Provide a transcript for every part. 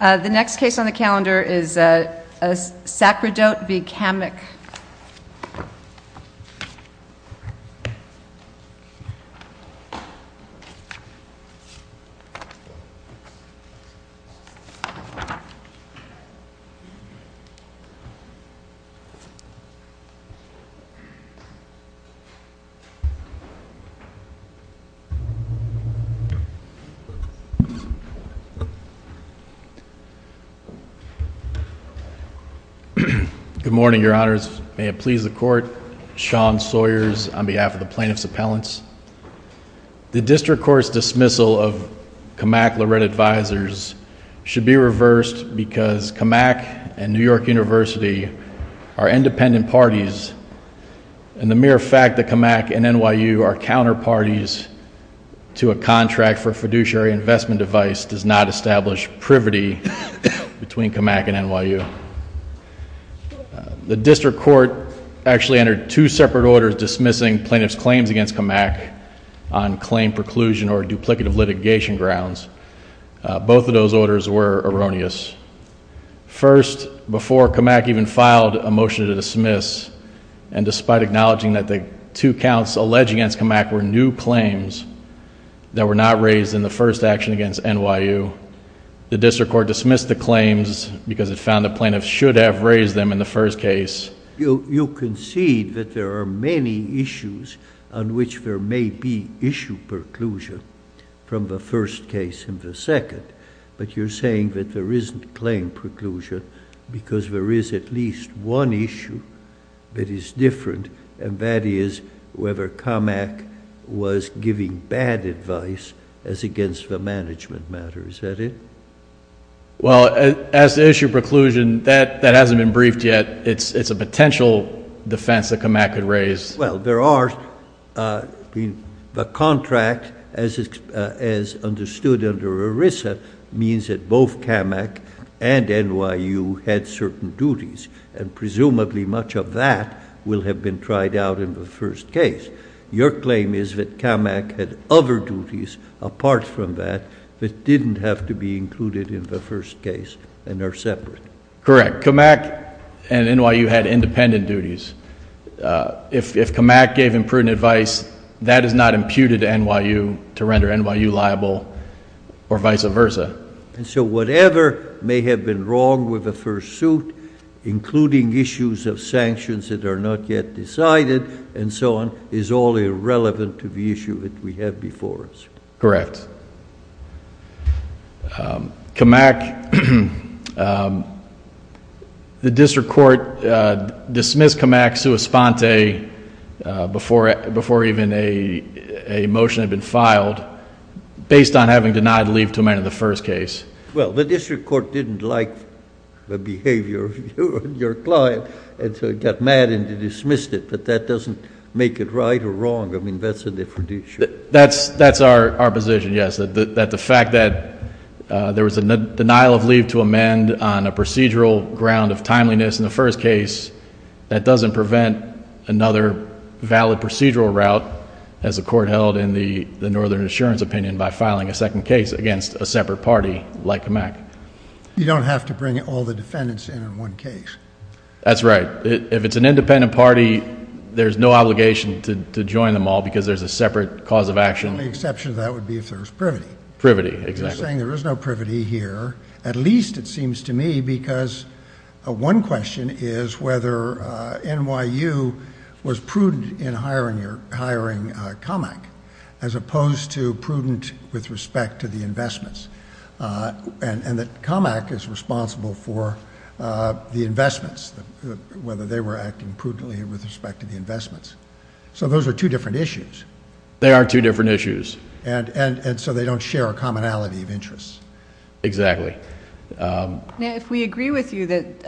The next case on the calendar is Sacerdote v. Kammock. Good morning, your honors. May it please the court. Sean Sawyers on behalf of the Plaintiff's Appellants. The District Court's dismissal of Kammock-Lorette advisors should be reversed because Kammock and New York University are independent parties, and the mere fact that Kammock and NYU are counterparties to a contract for a fiduciary investment device does not establish privity between Kammock and NYU. The District Court actually entered two separate orders dismissing plaintiff's claims against Kammock on claim preclusion or duplicative litigation grounds. Both of those orders were erroneous. First, before Kammock even filed a motion to dismiss, and despite acknowledging that the two counts alleged against Kammock were new claims that were not raised in the first action against NYU, the District Court dismissed the claims because it found the plaintiff should have raised them in the first case. You concede that there are many issues on which there may be issue preclusion from the first case and the second, but you're saying that there isn't and that is whether Kammock was giving bad advice as against the management matter. Is that it? Well, as to issue preclusion, that hasn't been briefed yet. It's a potential defense that Kammock could raise. Well, the contract as understood under ERISA means that both Kammock and NYU had certain duties, and presumably much of that will have been tried out in the first case. Your claim is that Kammock had other duties apart from that that didn't have to be included in the first case and are separate. Correct. Kammock and NYU had independent duties. If Kammock gave imprudent advice, that is not correct. May have been wrong with the first suit, including issues of sanctions that are not yet decided, and so on, is all irrelevant to the issue that we have before us. Correct. Kammock, the District Court dismissed Kammock sua sponte before even a court didn't like the behavior of your client, and so it got mad and it dismissed it, but that doesn't make it right or wrong. I mean, that's a different issue. That's our position, yes. That the fact that there was a denial of leave to amend on a procedural ground of timeliness in the first case, that doesn't prevent another valid procedural route, as the court held in the Northern Assurance opinion, by filing a second case against a separate party like Kammock. You don't have to bring all the defendants in in one case. That's right. If it's an independent party, there's no obligation to join them all because there's a separate cause of action. The only exception to that would be if there was privity. Privity, exactly. You're saying there is no privity here, at least it seems to me, because one question is whether NYU was prudent in hiring Kammock, as opposed to prudent with respect to the investments, and that Kammock is responsible for the investments, whether they were acting prudently with respect to the investments. So those are two different issues. They are two different issues. So they don't share a commonality of interests. Exactly. If we agree with you that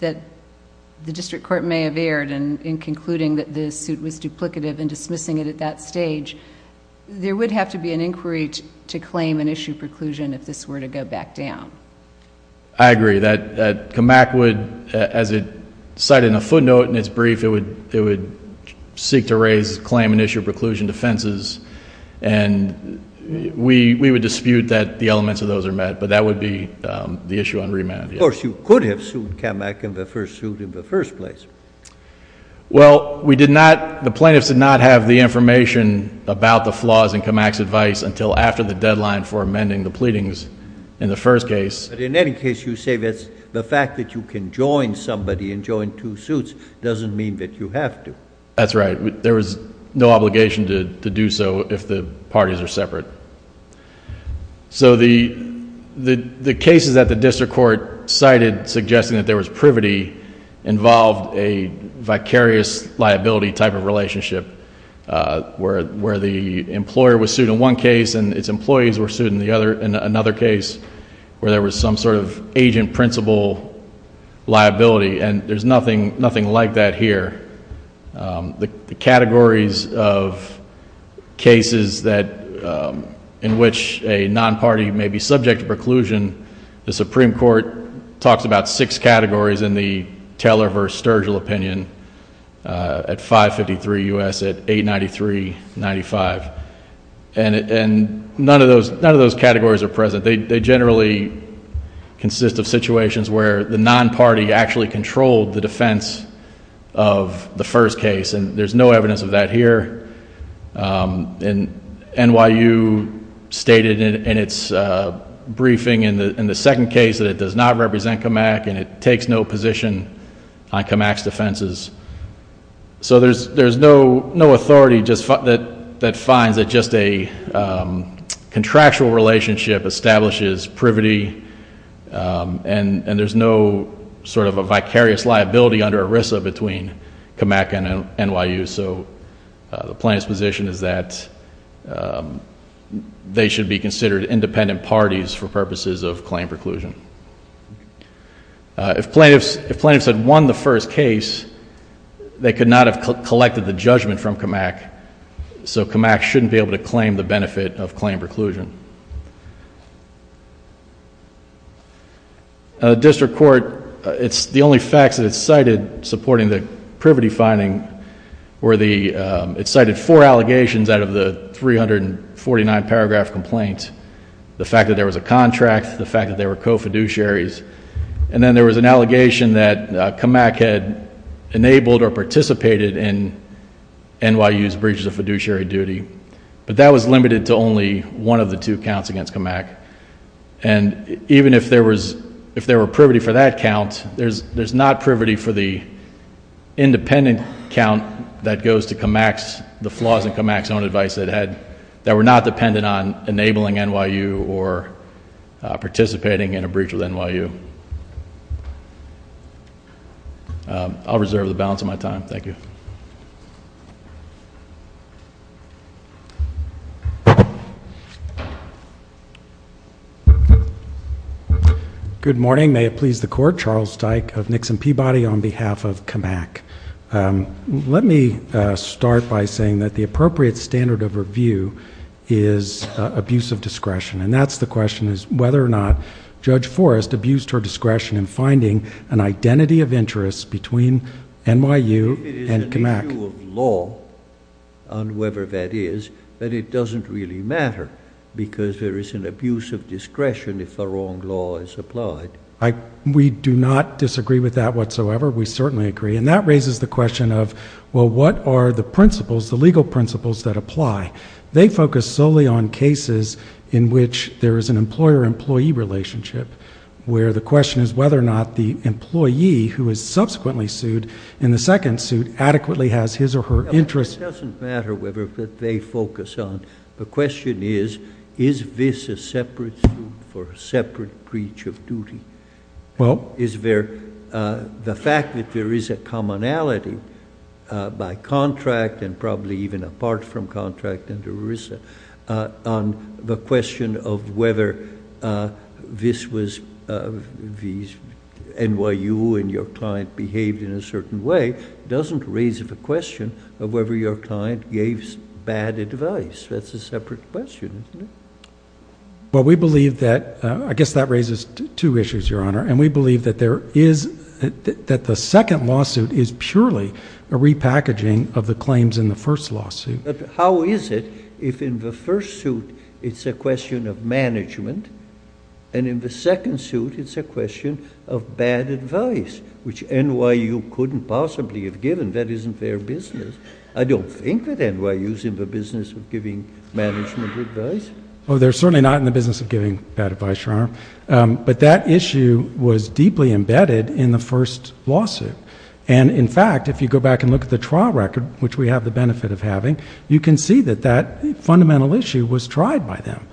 the district court may have erred in concluding that the suit was duplicative and dismissing it at that stage, there would have to be an inquiry to claim and issue preclusion if this were to go back down. I agree. That Kammock would, as it footnote in its brief, it would seek to raise claim and issue preclusion defenses, and we would dispute that the elements of those are met, but that would be the issue on remand. Of course, you could have sued Kammock in the first suit in the first place. Well, we did not, the plaintiffs did not have the information about the flaws in Kammock's advice until after the deadline for amending the That's right. There was no obligation to do so if the parties are separate. So the cases that the district court cited suggesting that there was privity involved a vicarious liability type of relationship where the employer was sued in one case and its employees were sued in another case where there was some sort of agent principle liability, and there's nothing like that here. The categories of cases that, in which a non-party may be subject to preclusion, the Supreme Court talks about six categories in the Taylor v. Sturgill opinion at 553 U.S. at 893-95. And none of those categories are present. They generally consist of situations where the non-party actually controlled the defense of the first case, and there's no evidence of that here. And NYU stated in its briefing in the second case that it does not represent Kammock and it takes no position on Kammock's It defines that just a contractual relationship establishes privity and there's no sort of a vicarious liability under ERISA between Kammock and NYU. So the plaintiff's position is that they should be considered independent parties for purposes of claim preclusion. If plaintiffs had won the first case, they could not have collected the judgment from Kammock, so Kammock shouldn't be able to claim the benefit of claim preclusion. District Court, it's the only facts that it cited supporting the privity finding were the, it cited four allegations out of the 349 paragraph complaint. The fact that there was a contract, the fact that there were co-fiduciaries, and then there was an allegation that Kammock had enabled or participated in NYU's breaches of fiduciary duty. But that was limited to only one of the two counts against Kammock. And even if there was, if there were privity for that count, there's some advice that had, that were not dependent on enabling NYU or participating in a breach with NYU. I'll reserve the balance of my time. Thank you. Good morning. May it please the court. Charles Dyke of Nixon Peabody on behalf of Kammock. Let me start by saying that the appropriate standard of review is abuse of discretion. And that's the question is whether or not Judge Forrest abused her discretion in finding an identity of interest between NYU and Kammock. If it is an issue of law on whoever that is, that it doesn't really matter. Because there is an abuse of discretion if the wrong law is applied. We do not disagree with that whatsoever. We certainly agree. And that raises the question of, well, what are the principles, the legal principles that apply? They focus solely on cases in which there is an employer-employee relationship, where the question is whether or not the employee who is subsequently sued in the second suit adequately has his or her interest. It doesn't matter whether they focus on. The question is, is this a separate suit for a separate breach of duty? Is there, the fact that there is a commonality by contract and probably even apart from contract under ERISA on the question of whether this was NYU and your client behaved in a certain way, doesn't raise the question of whether your client gave bad advice. That's a separate question, isn't it? Well, we believe that, I guess that raises two issues, Your Honor. And we believe that there is, that the second lawsuit is purely a repackaging of the claims in the first lawsuit. But how is it if in the first suit it's a question of management and in the second suit it's a question of bad advice, which NYU couldn't possibly have given? That isn't their business. I don't think that NYU is in the business of giving management advice. Oh, they're certainly not in the business of giving bad advice, Your Honor. But that issue was deeply embedded in the first lawsuit. And in fact, if you go back and look at the trial record, which we have the benefit of having, you can see that that fundamental issue was tried by them.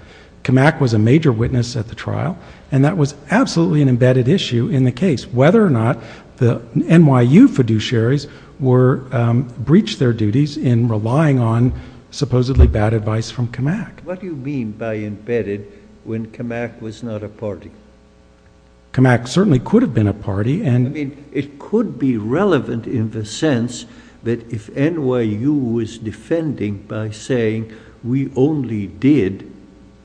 Camac was a major witness at the trial and that was absolutely an embedded issue in the case, whether or not the NYU fiduciaries were, breached their duties in relying on supposedly bad advice from Camac. What do you mean by embedded when Camac was not a party? Camac certainly could have been a party. I mean, it could be relevant in the sense that if NYU was defending by saying we only did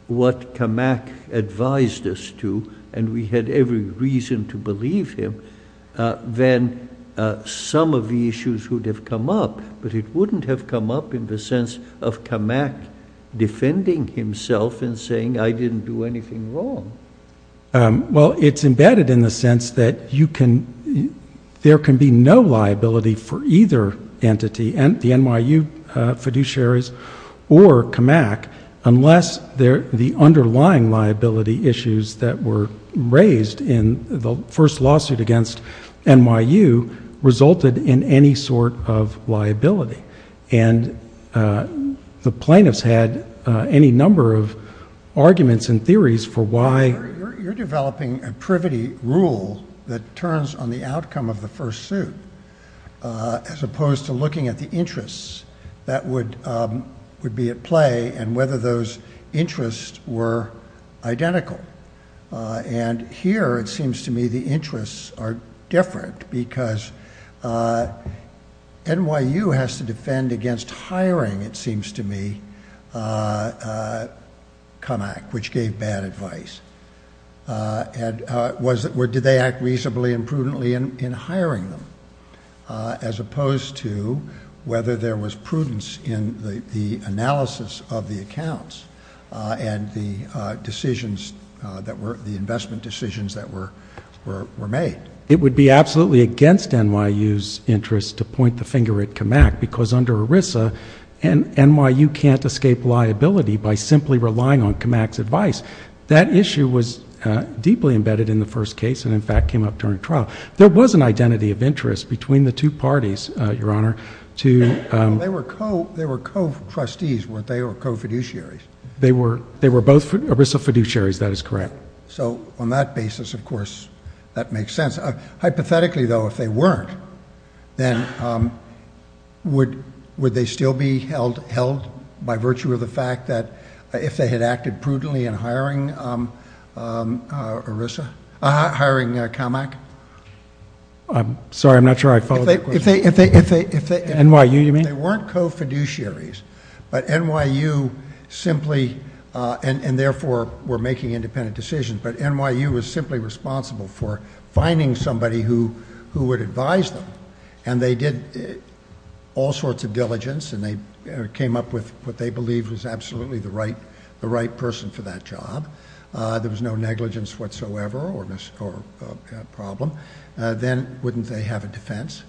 what Camac advised us to and we had every reason to believe him, then some of the issues would have come up. But it wouldn't have come up in the sense of Camac defending himself and saying I didn't do anything wrong. Well, it's embedded in the sense that there can be no liability for either entity, the NYU fiduciaries or Camac, unless the underlying liability issues that were raised in the first lawsuit against NYU resulted in any sort of liability. And the plaintiffs had any number of arguments and theories for why... You're developing a privity rule that turns on the outcome of the first suit, as opposed to looking at the interests that would be at play and whether those interests were identical. And here it seems to me the interests are different because NYU has to defend against hiring, it seems to me, Camac, which gave bad advice. Did they act reasonably and prudently in hiring them, as opposed to whether there was prudence in the analysis of the accounts and the decisions that were... the investment decisions that were made. It would be absolutely against NYU's interest to point the finger at Camac because under ERISA, NYU can't escape liability by simply relying on Camac's advice. That issue was deeply embedded in the first case and in fact came up during trial. There was an identity of interest between the two parties, Your Honor, to... They were co-trustees, weren't they, or co-fiduciaries? They were both ERISA fiduciaries, that is correct. So on that basis, of course, that makes sense. Hypothetically, though, if they weren't, then would they still be held by virtue of the fact that if they had acted prudently in hiring ERISA... hiring Camac? I'm sorry, I'm not sure I followed that question. NYU, you mean? They weren't co-fiduciaries, but NYU simply... and therefore were making independent decisions, but NYU was simply responsible for finding somebody who would advise them. And they did all sorts of diligence and they came up with what they believed was absolutely the right person for that job. There was no negligence whatsoever or problem. Then wouldn't they have a defense?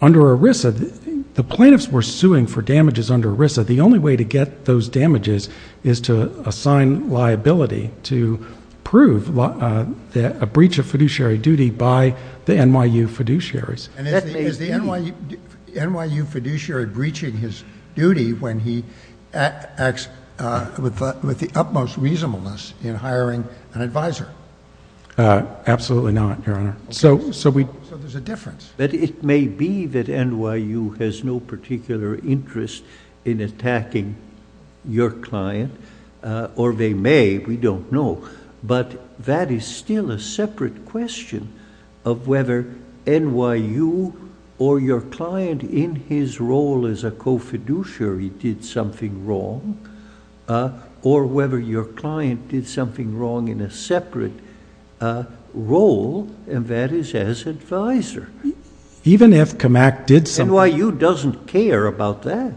Under ERISA, the plaintiffs were suing for damages under ERISA. The only way to get those damages is to assign liability to prove a breach of fiduciary duty by the NYU fiduciaries. And is the NYU fiduciary breaching his duty when he acts with the utmost reasonableness in hiring an advisor? Absolutely not, Your Honor. So there's a difference. But it may be that NYU has no particular interest in attacking your client, or they may, we don't know. But that is still a separate question of whether NYU or your client in his role as a co-fiduciary did something wrong, or whether your client did something wrong in a separate role, and that is as advisor. Even if CAMAC did something... NYU doesn't care about that.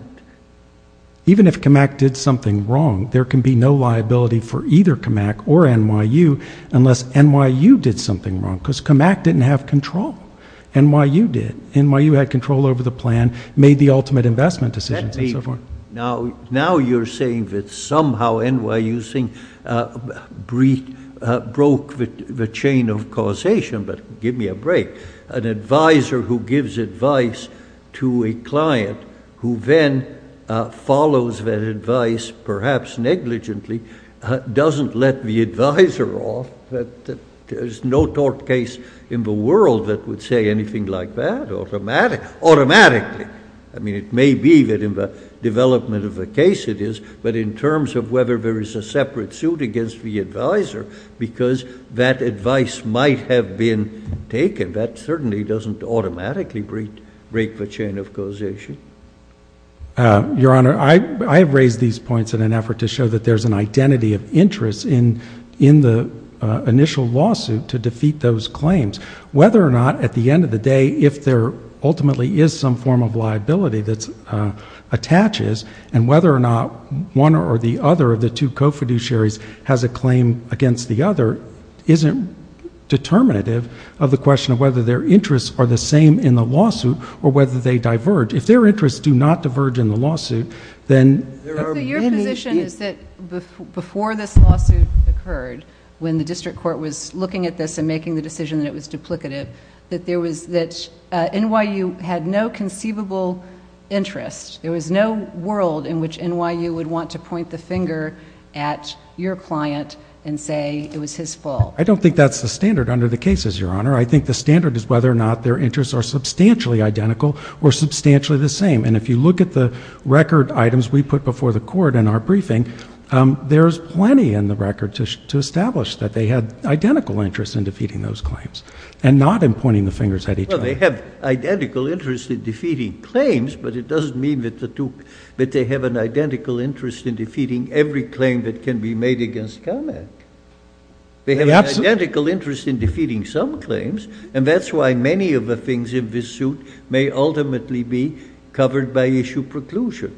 Even if CAMAC did something wrong, there can be no liability for either CAMAC or NYU unless NYU did something wrong, because CAMAC didn't have control over the plan, made the ultimate investment decisions, and so forth. Now you're saying that somehow NYU broke the chain of causation, but give me a break. An advisor who gives advice to a client who then follows that advice, perhaps negligently, doesn't let the advisor off? There's no tort case in the world that would say anything like that automatically. I mean, it may be that in the development of the case it is, but in terms of whether there is a separate suit against the advisor, because that advice might have been taken, that certainly doesn't automatically break the chain of causation. Your Honor, I have raised these points in an effort to show that there's an identity of interest in the initial lawsuit to defeat those claims. Whether or not, at the end of the day, if there ultimately is some form of liability that attaches, and whether or not one or the other of the two co-fiduciaries has a claim against the other isn't determinative of the question of whether their interests are the same in the lawsuit or whether they diverge. If their interests do not diverge in the lawsuit, then... So your position is that before this lawsuit occurred, when the district court was looking at this and making the decision that it was duplicative, that NYU had no conceivable interest. There was no world in which NYU would want to point the finger at your client and say it was his fault. I don't think that's the standard under the cases, Your Honor. I think the standard is whether or not their interests are substantially identical or substantially the same. And if you look at the record items we put before the court in our briefing, there's plenty in the record to establish that they had identical interests in defeating those claims and not in pointing the fingers at each other. Well, they have identical interests in defeating claims, but it doesn't mean that they have an identical interest in defeating every claim that can be made against CAMAC. They have an identical interest in defeating some claims, and that's why many of the things in this suit may ultimately be covered by issue preclusion.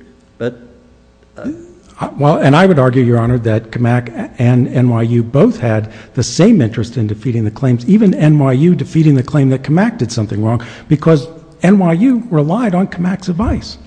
And I would argue, Your Honor, that CAMAC and NYU both had the same interest in defeating the claims, even NYU defeating the claim that CAMAC did something wrong, because NYU relied on CAMAC's advice.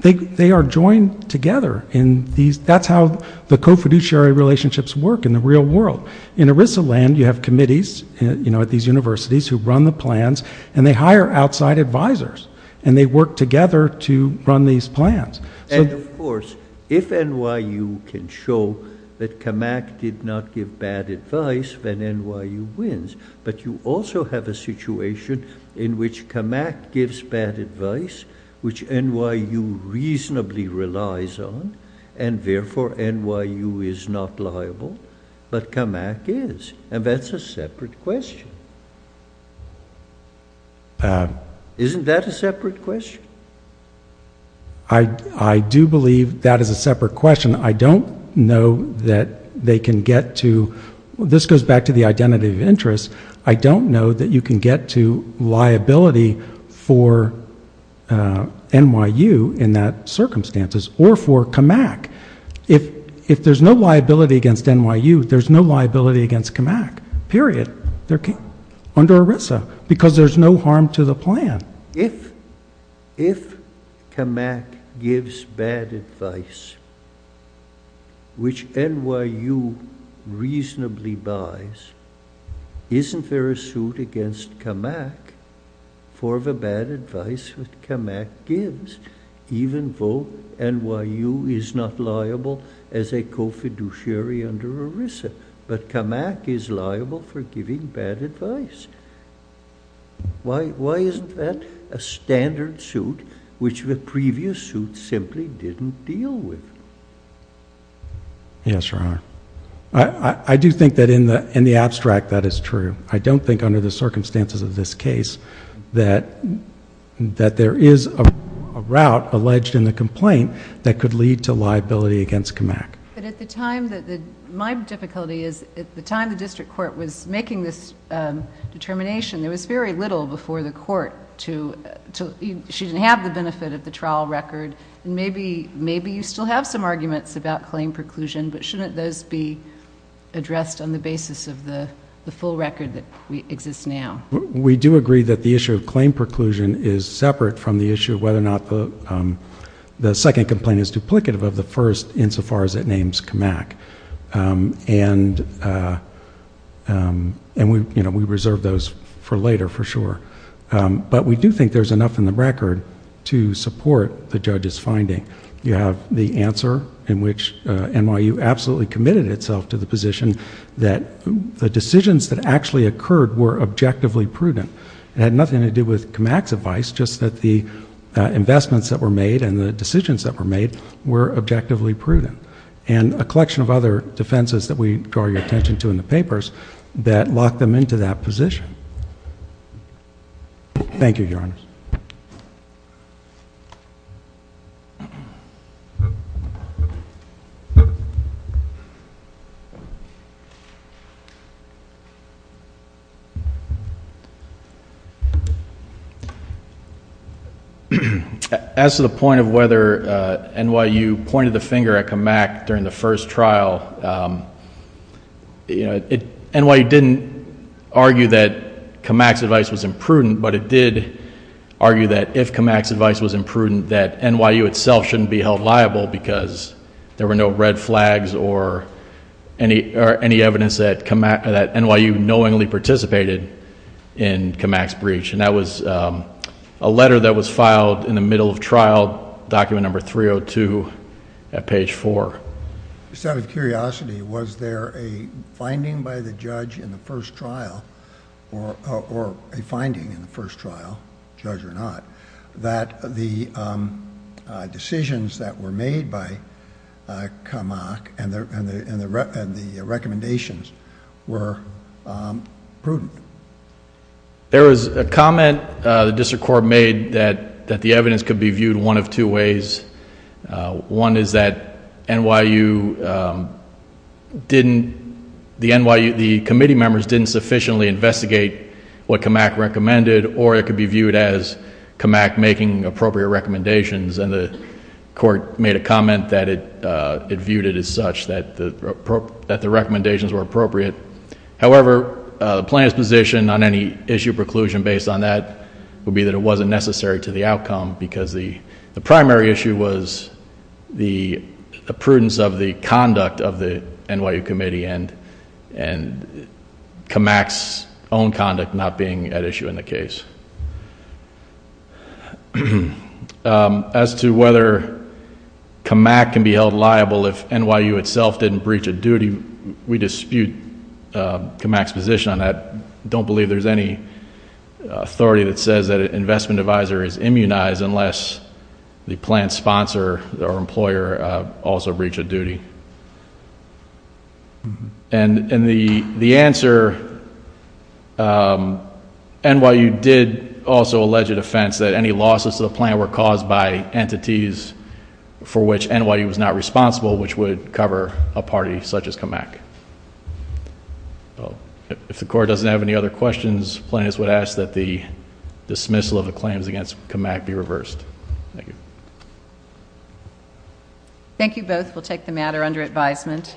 They are joined together in these, that's how the co-fiduciary relationships work in the real world. In ERISA land, you have committees, you know, at these universities who run the plans, and they hire outside advisors, and they work together to run these plans. And of course, if NYU can show that CAMAC did not give bad advice, then NYU wins. But you also have a situation in which CAMAC gives bad advice, which NYU reasonably relies on, and therefore NYU is not liable, but CAMAC is, and that's a separate question. Isn't that a separate question? I do believe that is a separate question. I don't know that they can get to, this goes back to the identity of interest, I don't know that you can get to liability for NYU in that circumstances, or for against NYU. There's no liability against CAMAC, period. Under ERISA, because there's no harm to the plan. If CAMAC gives bad advice, which NYU reasonably buys, isn't there a suit against CAMAC for the bad advice that CAMAC gives, even though NYU is not liable as a co-fiduciary under ERISA? But CAMAC is liable for giving bad advice. Why isn't that a standard suit, which the previous suit simply didn't deal with? Yes, Your Honor. I do think that in the abstract that is true. I don't think under the circumstances of this case that there is a route alleged in the complaint that could lead to liability against CAMAC. My difficulty is, at the time the district court was making this determination, there was very little before the court, she didn't have the benefit of the trial record, and maybe you still have some arguments about claim preclusion, but shouldn't those be addressed on the basis of the full record that exists now? We do agree that the issue of claim preclusion is separate from the issue of whether or not the second complaint is duplicative of the first, insofar as it names CAMAC. And we reserve those for later, for sure. But we do think there's enough in the record to support the judge's finding. You have the answer in which NYU absolutely committed itself to the position that the decisions that actually occurred were objectively prudent. It had nothing to do with CAMAC's advice, just that the investments that were made and the decisions that were made were objectively prudent. And a collection of other decisions that we pay attention to in the papers that lock them into that position. Thank you, Your Honor. As to the point of whether NYU pointed the finger at CAMAC during the first trial, NYU didn't argue that CAMAC's advice was imprudent, but it did argue that if CAMAC's advice was imprudent, that NYU itself shouldn't be held liable because there were no red flags or any evidence that NYU knowingly participated in CAMAC's breach. And that was a letter that was filed in the middle of trial, document number 302 at page 4. There was a comment the district court made that the evidence could be viewed one of two ways One is that NYU didn't, the NYU, the committee members didn't sufficiently investigate what CAMAC recommended or it could be viewed as CAMAC making appropriate recommendations. And the court made a comment that it viewed it as such, that the recommendations were appropriate. However, the plaintiff's position on any issue preclusion based on that would be that it wasn't necessary to the outcome because the primary issue was the prudence of the conduct of the NYU committee and CAMAC's own conduct not being at issue in the case. As to whether CAMAC can be held liable if NYU itself didn't breach a duty, we dispute CAMAC's position on that. Don't believe there's any authority that says that an investment advisor is immunized unless the plan sponsor or employer also breached a duty. And the answer, NYU did also allege a defense that any losses to the plan were caused by entities for which NYU was not responsible which would cover a party such as CAMAC. If the court doesn't have any other questions, plaintiffs would ask that the dismissal of the claims against CAMAC be reversed. Thank you. Thank you both. We'll take the matter under advisement.